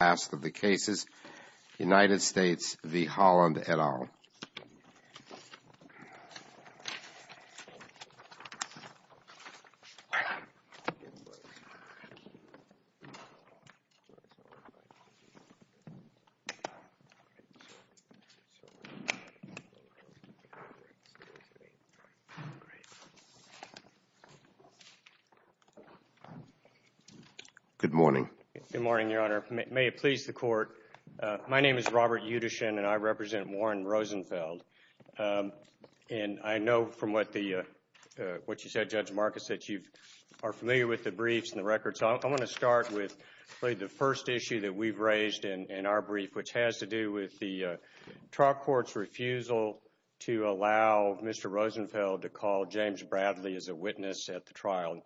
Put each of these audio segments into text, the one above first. Task of the Cases, United States v. Holland et al. Good morning. Good morning, Your Honor. May it please the Court, my name is Robert Yudishin and I represent Warren Rosenfeld. And I know from what the, what you said, Judge Marcus, that you are familiar with the briefs and the records. I want to start with the first issue that we've raised in our brief, which has to do with the trial court's refusal to allow Mr. Rosenfeld to call James Bradley as a witness at the trial.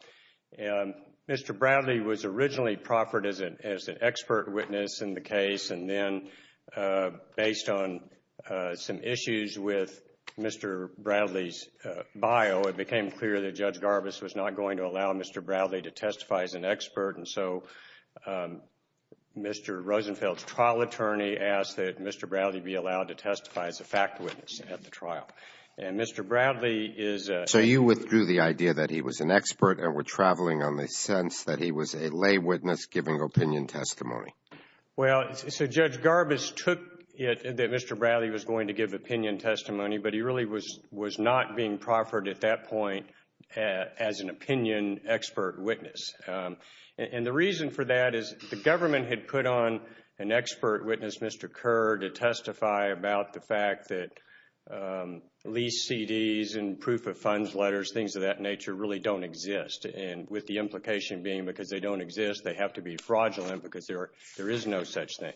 And Mr. Bradley was originally proffered as an expert witness in the case, and then based on some issues with Mr. Bradley's bio, it became clear that Judge Garbus was not going to allow Mr. Bradley to testify as an expert, and so Mr. Rosenfeld's trial attorney asked that Mr. Bradley be allowed to testify as a fact witness at the trial. And Mr. Bradley is a withdrew the idea that he was an expert and we're traveling on the sense that he was a lay witness giving opinion testimony. Well, so Judge Garbus took it that Mr. Bradley was going to give opinion testimony, but he really was not being proffered at that point as an opinion expert witness. And the reason for that is the government had put on an expert witness, Mr. Kerr, to really don't exist, and with the implication being because they don't exist, they have to be fraudulent because there is no such thing.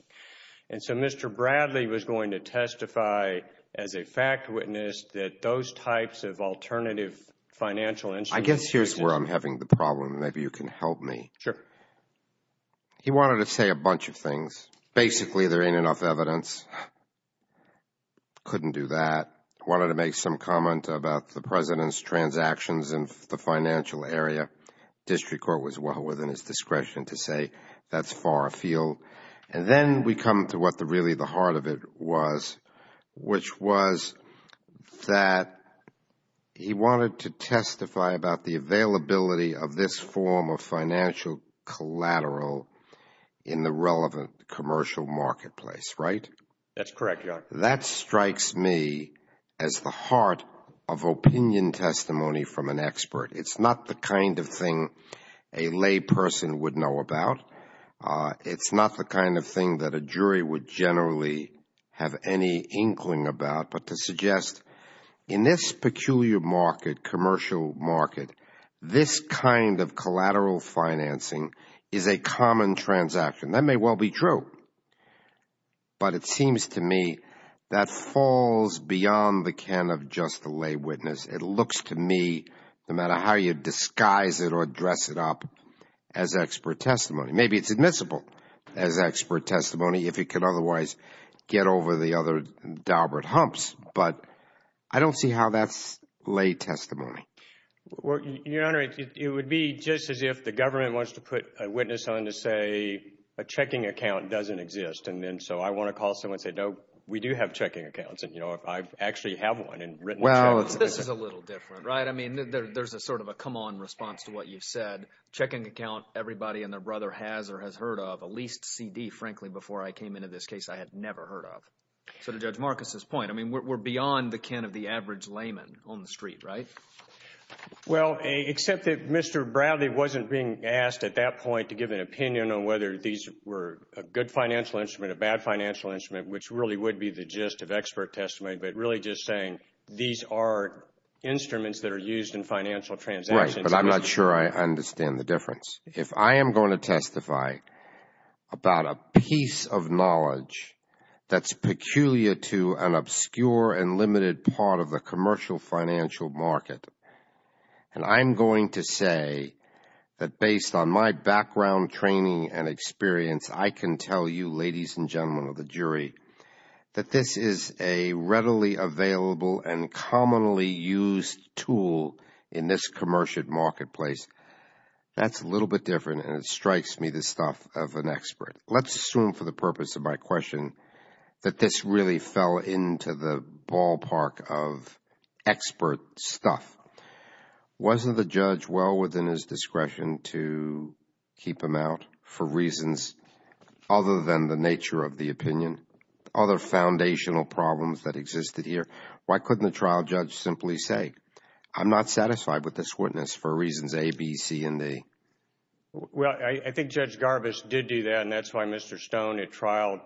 And so Mr. Bradley was going to testify as a fact witness that those types of alternative financial instruments exist. I guess here's where I'm having the problem, and maybe you can help me. He wanted to say a bunch of things. Basically there ain't enough evidence. Couldn't do that. Wanted to make some comment about the President's transactions in the financial area. District Court was well within his discretion to say that's far afield. And then we come to what really the heart of it was, which was that he wanted to testify about the availability of this form of financial collateral in the relevant commercial marketplace, right? That's correct, Your Honor. That strikes me as the heart of opinion testimony from an expert. It's not the kind of thing a lay person would know about. It's not the kind of thing that a jury would generally have any inkling about. But to suggest in this peculiar market, commercial market, this kind of collateral financing is a common transaction. That may well be true. But it seems to me that falls beyond the can of just a lay witness. It looks to me, no matter how you disguise it or dress it up, as expert testimony. Maybe it's admissible as expert testimony if it could otherwise get over the other daubered humps. But I don't see how that's lay testimony. Your Honor, it would be just as if the government wants to put a witness on to say a checking account doesn't exist. So I want to call someone and say, no, we do have checking accounts, and I actually have one. Well, this is a little different, right? I mean, there's a sort of a come on response to what you've said. Checking account, everybody and their brother has or has heard of, at least C.D., frankly, before I came into this case, I had never heard of. So to Judge Marcus's point, we're beyond the can of the average layman on the street, right? Well, except that Mr. Bradley wasn't being asked at that point to give an opinion on whether these were a good financial instrument, a bad financial instrument, which really would be the gist of expert testimony, but really just saying these are instruments that are used in financial transactions. Right. But I'm not sure I understand the difference. If I am going to testify about a piece of knowledge that's peculiar to an obscure and limited part of the commercial financial market, and I'm going to say that based on my background training and experience, I can tell you, ladies and gentlemen of the jury, that this is a readily available and commonly used tool in this commercial marketplace, that's a little bit different and it strikes me the stuff of an expert. Let's assume for the purpose of my question that this really fell into the ballpark of expert stuff. Wasn't the judge well within his discretion to keep him out for reasons other than the nature of the opinion, other foundational problems that existed here? Why couldn't the trial judge simply say, I'm not satisfied with this witness for reasons A, B, C, and D? Well, I think Judge Garbus did do that and that's why Mr. Stone at trial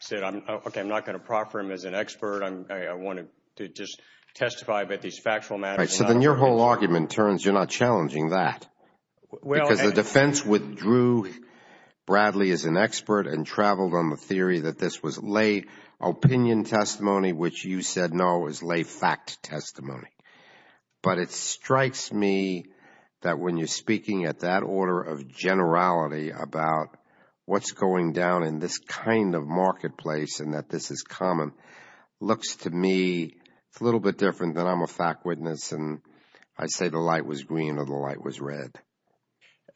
said, okay, I'm not going to proffer him as an expert. I want to just testify about these factual matters. Right, so then your whole argument turns you're not challenging that because the defense withdrew Bradley as an expert and traveled on the theory that this was lay opinion testimony, which you said no, it was lay fact testimony. But it strikes me that when you're speaking at that order of generality about what's going down in this kind of marketplace and that this is common, it looks to me a little bit different than I'm a fact witness and I say the light was green or the light was red.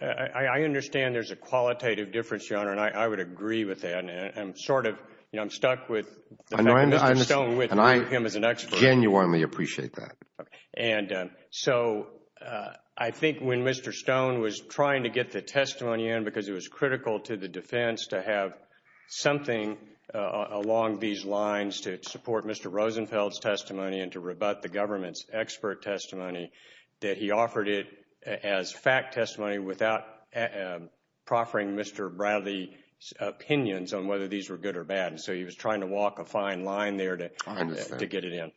I understand there's a qualitative difference, Your Honor, and I would agree with that. I'm sort of, you know, I'm stuck with the fact that Mr. Stone withdrew him as an expert. And I genuinely appreciate that. And so I think when Mr. Stone was trying to get the testimony in because it was critical to the defense to have something along these lines to support Mr. Rosenfeld's testimony and to rebut the government's expert testimony, that he offered it as fact testimony without proffering Mr. Bradley's opinions on whether these were good or bad. And so he was trying to walk a fine line there to get it in.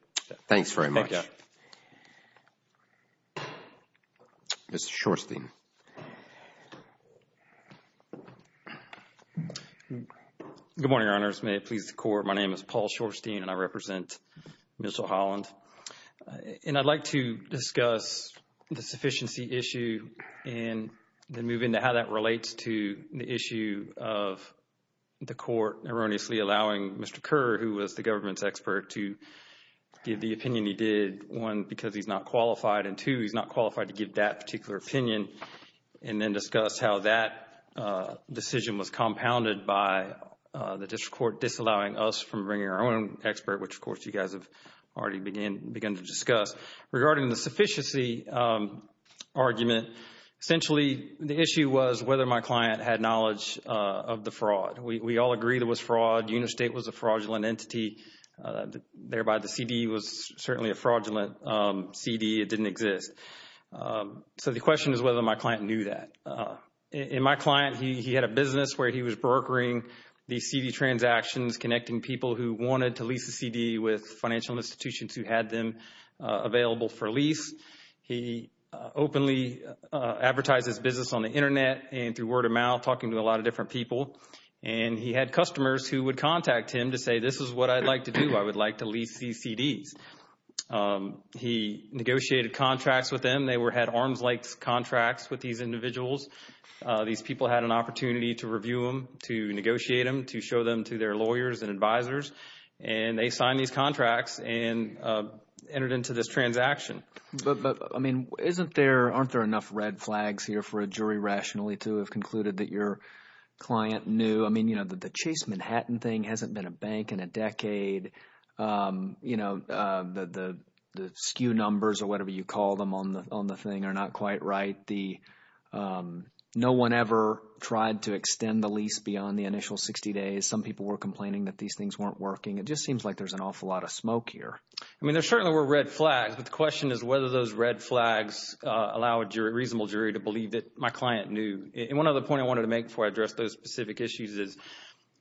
Thanks very much. Mr. Shorstein. Good morning, Your Honors. May it please the Court. My name is Paul Shorstein and I represent Mitchell Holland. And I'd like to discuss the sufficiency issue and then move into how that relates to the issue of the Court erroneously allowing Mr. Kerr, who was the government's expert, to give the opinion he did, one, because he's not qualified, and two, he's not qualified to give that particular opinion and then discuss how that decision was compounded by the District Court disallowing us from bringing our own expert, which, of course, you guys have already begun to discuss. Regarding the sufficiency argument, essentially the issue was whether my client had knowledge of the fraud. We all agree there was fraud. Unistate was a fraudulent entity, thereby the CD was certainly a fraudulent CD. It didn't exist. So the question is whether my client knew that. In my client, he had a business where he was brokering the CD transactions connecting people who wanted to lease a CD with financial institutions who had them available for lease. He openly advertised his business on the Internet and through word of mouth, talking to a lot of different people. And he had customers who would contact him to say, this is what I'd like to do. I would like to lease these CDs. He negotiated contracts with them. They had arms-length contracts with these individuals. These people had an opportunity to review them, to negotiate them, to show them to their lawyers and advisors. And they signed these contracts and entered into this transaction. But, I mean, aren't there enough red flags here for a jury rationally to have concluded that your client knew? I mean, you know, the Chase Manhattan thing hasn't been a bank in a decade. You know, the skew numbers or whatever you call them on the thing are not quite right. No one ever tried to extend the lease beyond the initial 60 days. Some people were complaining that these things weren't working. It just seems like there's an awful lot of smoke here. I mean, there certainly were red flags. But the question is whether those red flags allow a reasonable jury to believe that my client knew. And one other point I wanted to make before I address those specific issues is,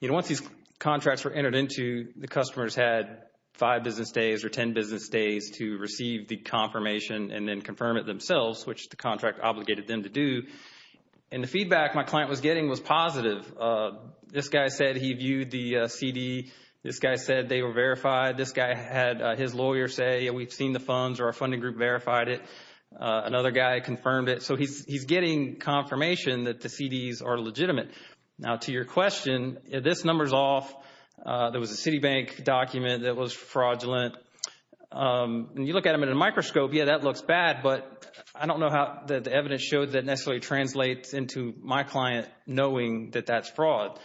you know, once these contracts were entered into, the customers had five business days or ten business days to receive the confirmation and then confirm it themselves, which the contract obligated them to do. And the feedback my client was getting was positive. This guy said he viewed the CD. This guy said they were verified. This guy had his lawyer say, yeah, we've seen the funds or our funding group verified it. Another guy confirmed it. So he's getting confirmation that the CDs are legitimate. Now to your question, if this number's off, there was a Citibank document that was fraudulent. You look at them in a microscope, yeah, that looks bad, but I don't know how the evidence showed that necessarily translates into my client knowing that that's fraud.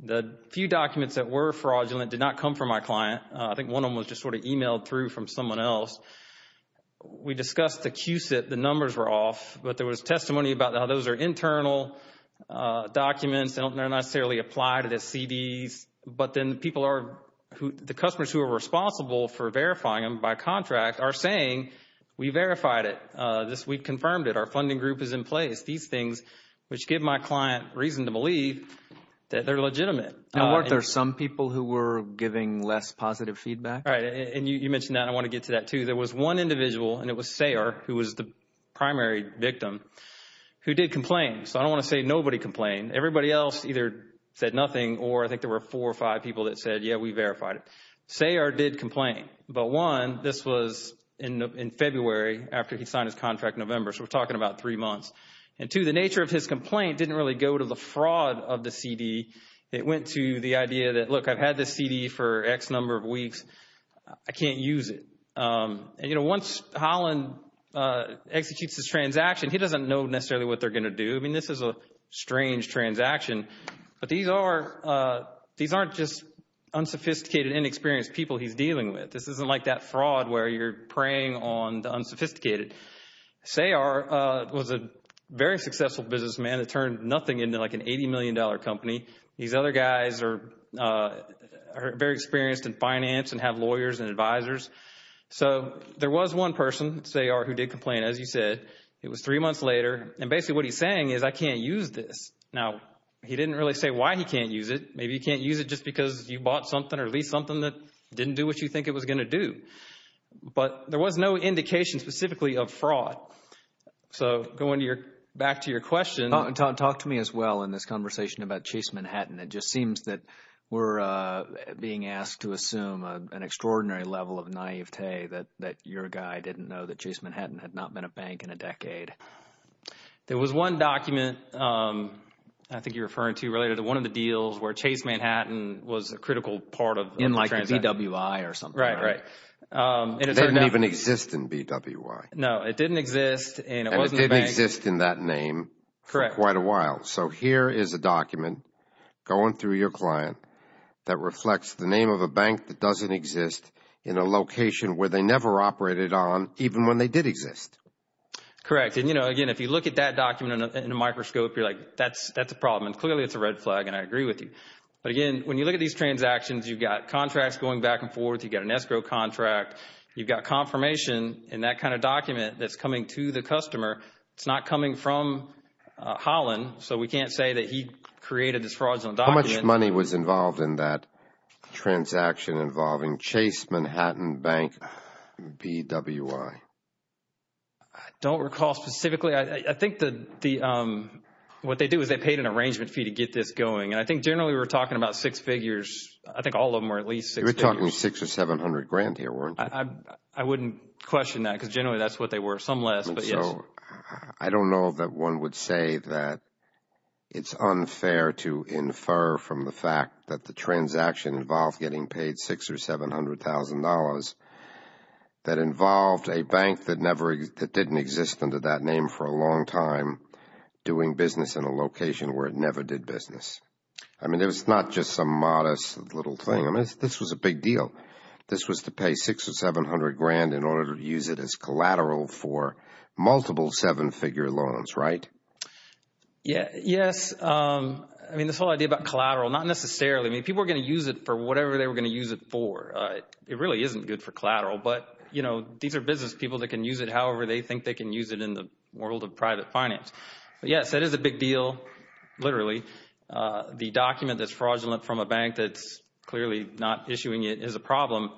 The few documents that were fraudulent did not come from my client. I think one of them was just sort of emailed through from someone else. We discussed the Q-SIP, the numbers were off, but there was testimony about how those are internal documents, they don't necessarily apply to the CDs. But then the people are, the customers who are responsible for verifying them by contract are saying, we verified it. We confirmed it. Our funding group is in place. These things, which give my client reason to believe that they're legitimate. Now weren't there some people who were giving less positive feedback? Right. And you mentioned that. I want to get to that too. There was one individual, and it was Sayer, who was the primary victim, who did complain. So I don't want to say nobody complained. Everybody else either said nothing, or I think there were four or five people that said, yeah, we verified it. Sayer did complain. But one, this was in February after he signed his contract in November, so we're talking about three months. And two, the nature of his complaint didn't really go to the fraud of the CD. I can't use it. And you know, once Holland executes his transaction, he doesn't know necessarily what they're going to do. I mean, this is a strange transaction. But these aren't just unsophisticated, inexperienced people he's dealing with. This isn't like that fraud where you're preying on the unsophisticated. Sayer was a very successful businessman that turned nothing into like an $80 million company. These other guys are very experienced in finance and have lawyers and advisors. So there was one person, Sayer, who did complain, as you said. It was three months later. And basically what he's saying is, I can't use this. Now, he didn't really say why he can't use it. Maybe he can't use it just because you bought something or leased something that didn't do what you think it was going to do. But there was no indication specifically of fraud. So going back to your question. Talk to me as well in this conversation about Chase Manhattan. It just seems that we're being asked to assume an extraordinary level of naivete that your guy didn't know that Chase Manhattan had not been a bank in a decade. There was one document, I think you're referring to, related to one of the deals where Chase Manhattan was a critical part of the transaction. In like a BWI or something, right? Right, right. And it turned out- It didn't even exist in BWI. No, it didn't exist. And it wasn't a bank. And it didn't exist in that name. Correct. For quite a while. So here is a document going through your client that reflects the name of a bank that doesn't exist in a location where they never operated on, even when they did exist. Correct. And, you know, again, if you look at that document in a microscope, you're like, that's a problem. And clearly it's a red flag and I agree with you. But again, when you look at these transactions, you've got contracts going back and forth. You've got an escrow contract. You've got confirmation in that kind of document that's coming to the customer. It's not coming from Holland. So we can't say that he created this fraudulent document. How much money was involved in that transaction involving Chase Manhattan Bank BWI? I don't recall specifically. I think what they did was they paid an arrangement fee to get this going. And I think generally we're talking about six figures. I think all of them were at least six figures. You were talking six or seven hundred grand here, weren't you? I wouldn't question that because generally that's what they were. Some less, but yes. I don't know that one would say that it's unfair to infer from the fact that the transaction involved getting paid six or seven hundred thousand dollars that involved a bank that didn't exist under that name for a long time doing business in a location where it never did business. I mean, it was not just some modest little thing. This was a big deal. This was to pay six or seven hundred grand in order to use it as collateral for multiple seven figure loans, right? Yes. I mean, this whole idea about collateral, not necessarily. I mean, people are going to use it for whatever they were going to use it for. It really isn't good for collateral. But you know, these are business people that can use it however they think they can use it in the world of private finance. But yes, that is a big deal, literally. The document that's fraudulent from a bank that's clearly not issuing it is a problem.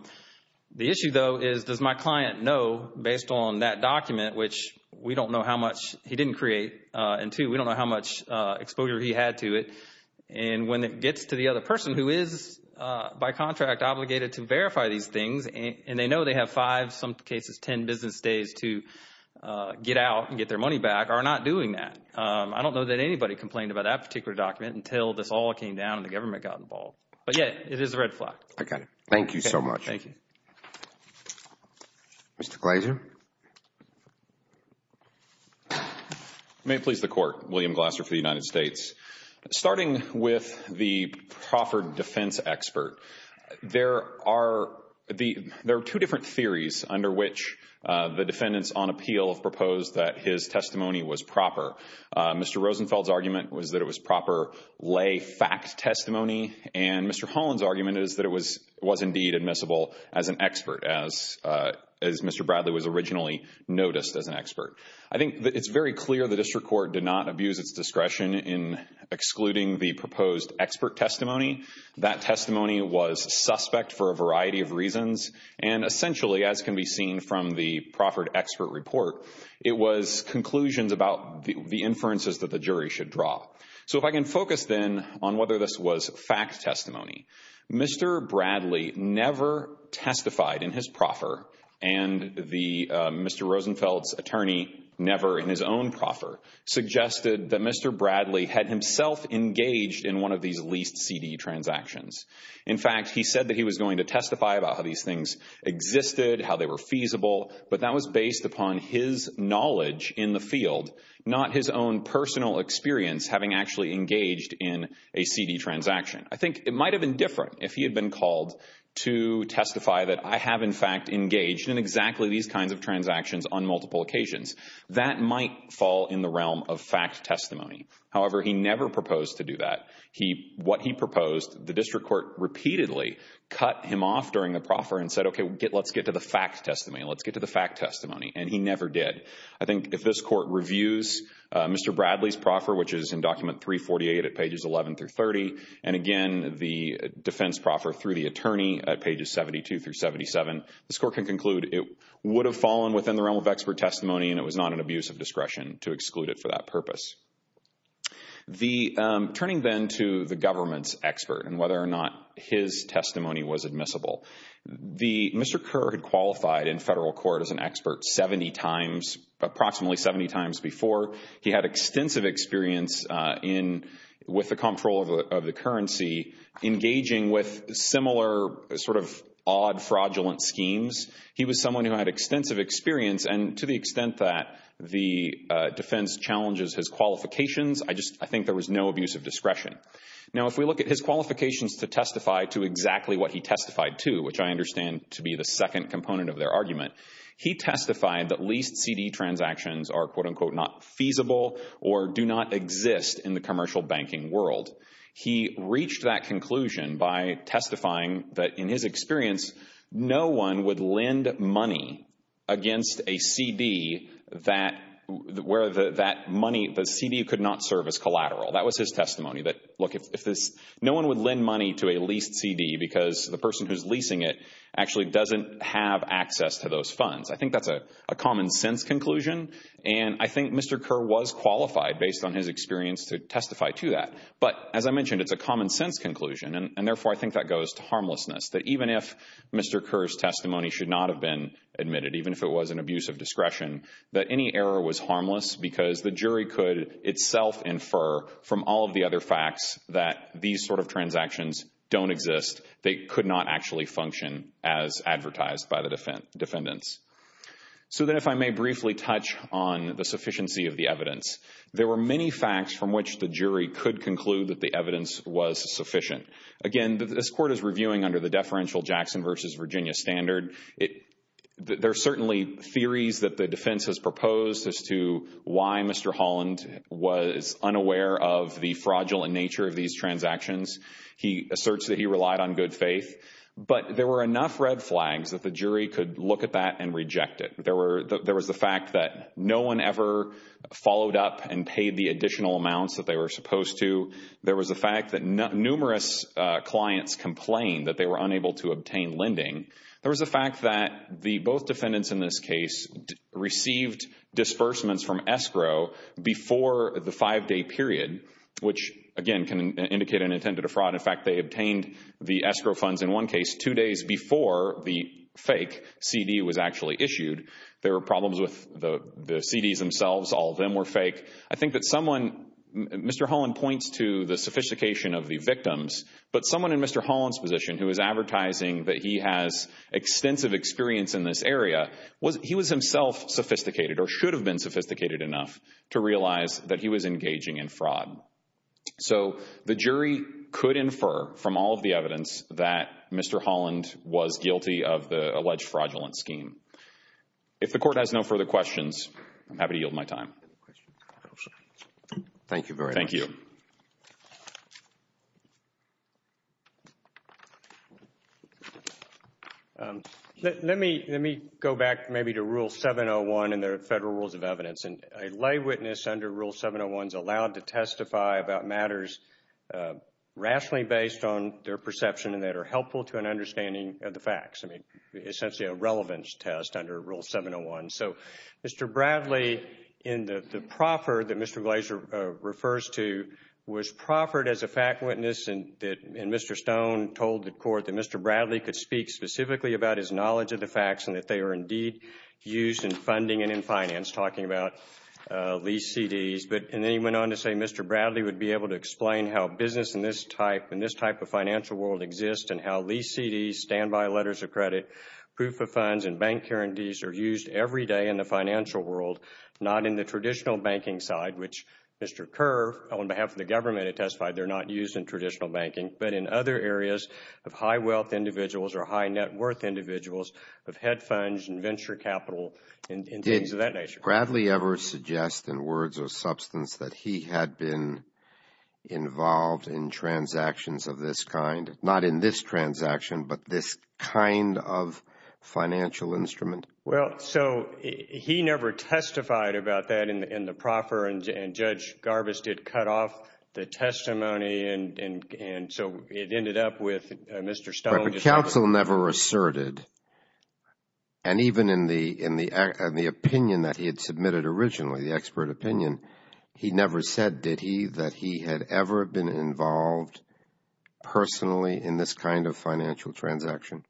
The issue though is, does my client know based on that document, which we don't know how much he didn't create, and two, we don't know how much exposure he had to it, and when it gets to the other person who is by contract obligated to verify these things and they know they have five, some cases ten business days to get out and get their money back are not doing that. I don't know that anybody complained about that particular document until this all came down and the government got involved. But yes, it is a red flag. Okay. Thank you so much. Thank you. Mr. Glazer? May it please the Court, William Glaser for the United States. Starting with the Crawford defense expert, there are two different theories under which the defendants on appeal have proposed that his testimony was proper. Mr. Rosenfeld's argument was that it was proper lay fact testimony, and Mr. Holland's argument is that it was indeed admissible as an expert, as Mr. Bradley was originally noticed as an expert. I think it's very clear the district court did not abuse its discretion in excluding the proposed expert testimony. That testimony was suspect for a variety of reasons, and essentially, as can be seen from the Crawford expert report, it was conclusions about the inferences that the jury should draw. So if I can focus then on whether this was fact testimony, Mr. Bradley never testified in his proffer, and Mr. Rosenfeld's attorney never in his own proffer, suggested that Mr. Bradley had himself engaged in one of these leased CD transactions. In fact, he said that he was going to testify about how these things existed, how they were feasible, but that was based upon his knowledge in the field, not his own personal experience having actually engaged in a CD transaction. I think it might have been different if he had been called to testify that I have in fact engaged in exactly these kinds of transactions on multiple occasions. That might fall in the realm of fact testimony. However, he never proposed to do that. What he proposed, the district court repeatedly cut him off during the proffer and said, okay, let's get to the fact testimony, let's get to the fact testimony, and he never did. I think if this court reviews Mr. Bradley's proffer, which is in document 348 at pages 11 through 30, and again the defense proffer through the attorney at pages 72 through 77, this court can conclude it would have fallen within the realm of expert testimony and it was not an abuse of discretion to exclude it for that purpose. Turning then to the government's expert and whether or not his testimony was admissible, Mr. Kerr qualified in federal court as an expert 70 times, approximately 70 times before. He had extensive experience with the control of the currency, engaging with similar sort of odd fraudulent schemes. He was someone who had extensive experience and to the extent that the defense challenges his qualifications, I think there was no abuse of discretion. Now if we look at his qualifications to testify to exactly what he testified to, which I understand to be the second component of their argument, he testified that leased CD transactions are quote unquote not feasible or do not exist in the commercial banking world. He reached that conclusion by testifying that in his experience, no one would lend money against a CD where that money, the CD could not serve as collateral. That was his testimony. That look, if this, no one would lend money to a leased CD because the person who's leasing it actually doesn't have access to those funds. I think that's a common sense conclusion and I think Mr. Kerr was qualified based on his experience to testify to that. But as I mentioned, it's a common sense conclusion and therefore I think that goes to harmlessness. That even if Mr. Kerr's testimony should not have been admitted, even if it was an abuse of discretion, that any error was harmless because the jury could itself infer from all of the other facts that these sort of transactions don't exist. They could not actually function as advertised by the defendants. So then if I may briefly touch on the sufficiency of the evidence. There were many facts from which the jury could conclude that the evidence was sufficient. Again, this court is reviewing under the deferential Jackson versus Virginia standard. There are certainly theories that the defense has proposed as to why Mr. Holland was unaware of the fraudulent nature of these transactions. He asserts that he relied on good faith. But there were enough red flags that the jury could look at that and reject it. There was the fact that no one ever followed up and paid the additional amounts that they were supposed to. There was the fact that numerous clients complained that they were unable to obtain lending. There was the fact that the both defendants in this case received disbursements from escrow before the five-day period, which again can indicate an intended fraud. In fact, they obtained the escrow funds in one case two days before the fake CD was actually issued. There were problems with the CDs themselves. All of them were fake. I think that someone, Mr. Holland points to the sophistication of the victims, but someone in Mr. Holland's position who is advertising that he has extensive experience in this area, he was himself sophisticated or should have been sophisticated enough to realize that he was engaging in fraud. So the jury could infer from all of the evidence that Mr. Holland was guilty of the alleged fraudulent scheme. If the court has no further questions, I'm happy to yield my time. Thank you very much. Let me go back maybe to Rule 701 and the Federal Rules of Evidence. A lay witness under Rule 701 is allowed to testify about matters rationally based on their perception and that are helpful to an understanding of the facts. I mean, essentially a relevance test under Rule 701. So Mr. Bradley in the proffer that Mr. Glazer refers to was proffered as a fact witness and Mr. Stone told the court that Mr. Bradley could speak specifically about his knowledge of the facts and that they are indeed used in funding and in finance, talking about lease CDs. And then he went on to say Mr. Bradley would be able to explain how business in this type of financial world exists and how lease CDs, standby letters of credit, proof of funds and bank guarantees are used every day in the financial world, not in the traditional banking side, which Mr. Kerr, on behalf of the government, has testified they are not used in traditional banking, but in other areas of high wealth individuals or high net worth individuals of head funds and venture capital and things of that nature. Did Bradley ever suggest in words or substance that he had been involved in transactions of this kind, not in this transaction, but this kind of financial instrument? Well, so he never testified about that in the proffer and Judge Garbus did cut off the connection and so it ended up with Mr. Stone. But the counsel never asserted and even in the opinion that he had submitted originally, the expert opinion, he never said, did he, that he had ever been involved personally in this kind of financial transaction?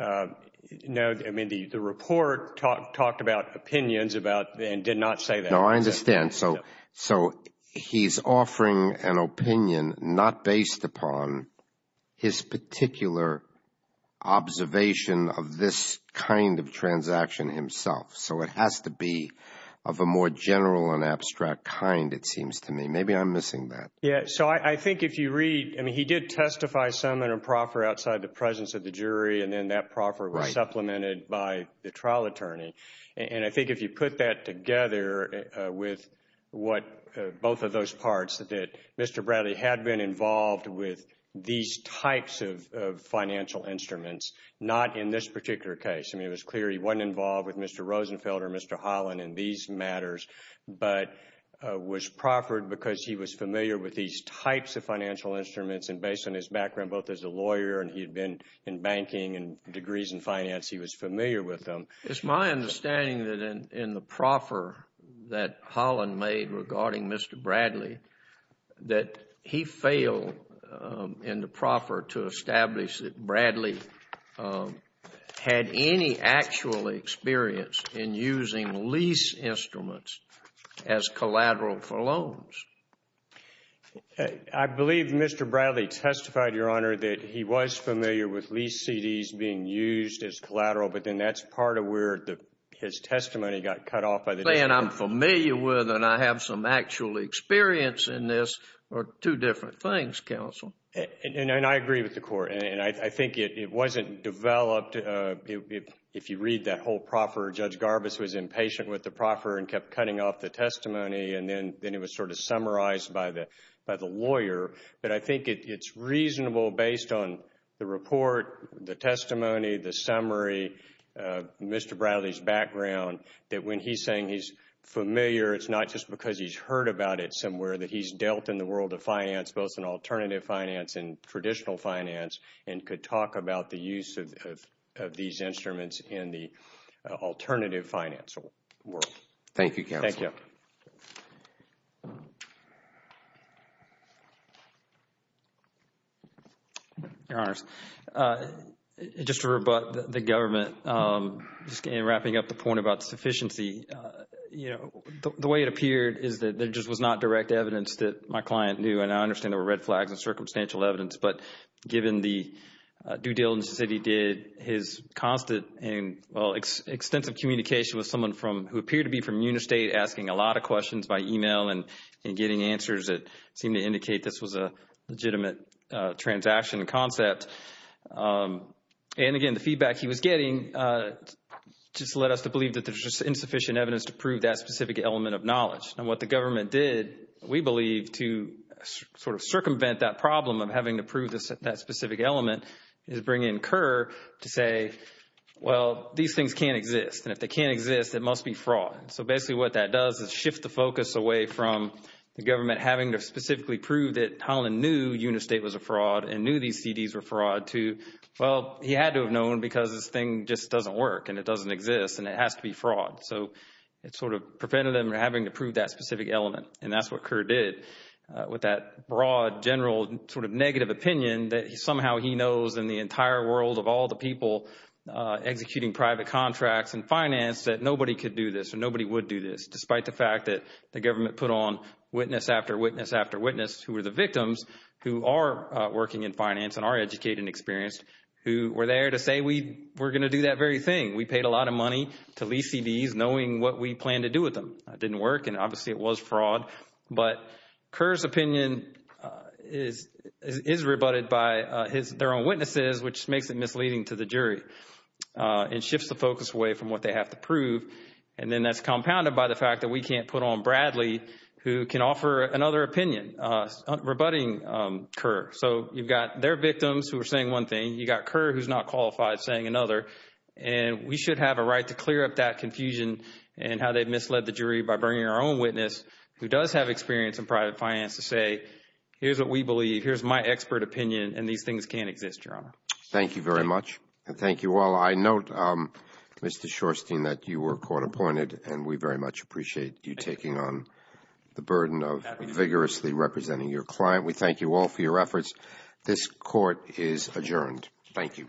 No, I mean, the report talked about opinions and did not say that. No, I understand. So, so he's offering an opinion not based upon his particular observation of this kind of transaction himself. So it has to be of a more general and abstract kind, it seems to me. Maybe I'm missing that. Yeah. So I think if you read, I mean, he did testify some in a proffer outside the presence of the jury and then that proffer was supplemented by the trial attorney. And I think if you put that together with what both of those parts that Mr. Bradley had been involved with these types of financial instruments, not in this particular case, I mean, it was clear he wasn't involved with Mr. Rosenfeld or Mr. Holland in these matters, but was proffered because he was familiar with these types of financial instruments and based on his background, both as a lawyer and he had been in banking and degrees in finance, he was familiar with them. It's my understanding that in the proffer that Holland made regarding Mr. Bradley, that he failed in the proffer to establish that Bradley had any actual experience in using lease instruments as collateral for loans. I believe Mr. Bradley testified, Your Honor, that he was familiar with lease CDs being used as collateral, but then that's part of where his testimony got cut off by the district court. Saying I'm familiar with and I have some actual experience in this are two different things, counsel. And I agree with the court. And I think it wasn't developed. If you read that whole proffer, Judge Garbus was impatient with the proffer and kept cutting off the testimony and then it was sort of summarized by the lawyer. But I think it's reasonable based on the report, the testimony, the summary, Mr. Bradley's background that when he's saying he's familiar, it's not just because he's heard about it somewhere that he's dealt in the world of finance, both in alternative finance and traditional finance and could talk about the use of these instruments in the alternative financial world. Thank you, counsel. Thank you. Mr. Bishop. Your Honors, just to rebut the government, just in wrapping up the point about sufficiency, you know, the way it appeared is that there just was not direct evidence that my client knew and I understand there were red flags and circumstantial evidence. But given the due diligence that he did, his constant and, well, extensive communication with someone who appeared to be from Unistate, asking a lot of questions by email and getting answers that seemed to indicate this was a legitimate transaction concept, and again, the feedback he was getting just led us to believe that there's just insufficient evidence to prove that specific element of knowledge. And what the government did, we believe, to sort of circumvent that problem of having to prove that specific element is bring in Kerr to say, well, these things can't exist. And if they can't exist, it must be fraud. So basically what that does is shift the focus away from the government having to specifically prove that Holland knew Unistate was a fraud and knew these CDs were fraud to, well, he had to have known because this thing just doesn't work and it doesn't exist and it has to be fraud. So it sort of prevented him from having to prove that specific element. And that's what Kerr did with that broad, general sort of negative opinion that somehow he knows in the entire world of all the people executing private contracts and finance that nobody could do this or nobody would do this, despite the fact that the government put on witness after witness after witness who were the victims, who are working in finance and are educated and experienced, who were there to say we're going to do that very thing. We paid a lot of money to lease CDs knowing what we planned to do with them. It didn't work and obviously it was fraud. But Kerr's opinion is rebutted by their own witnesses, which makes it misleading to the jury and shifts the focus away from what they have to prove. And then that's compounded by the fact that we can't put on Bradley who can offer another opinion rebutting Kerr. So you've got their victims who are saying one thing, you've got Kerr who's not qualified saying another, and we should have a right to clear up that confusion and how they misled the jury by bringing our own witness who does have experience in private finance to say here's what we believe, here's my expert opinion, and these things can't exist, Your Honor. Thank you very much. Thank you all. I note, Mr. Shorstein, that you were court appointed and we very much appreciate you taking on the burden of vigorously representing your client. We thank you all for your efforts. This court is adjourned. Thank you.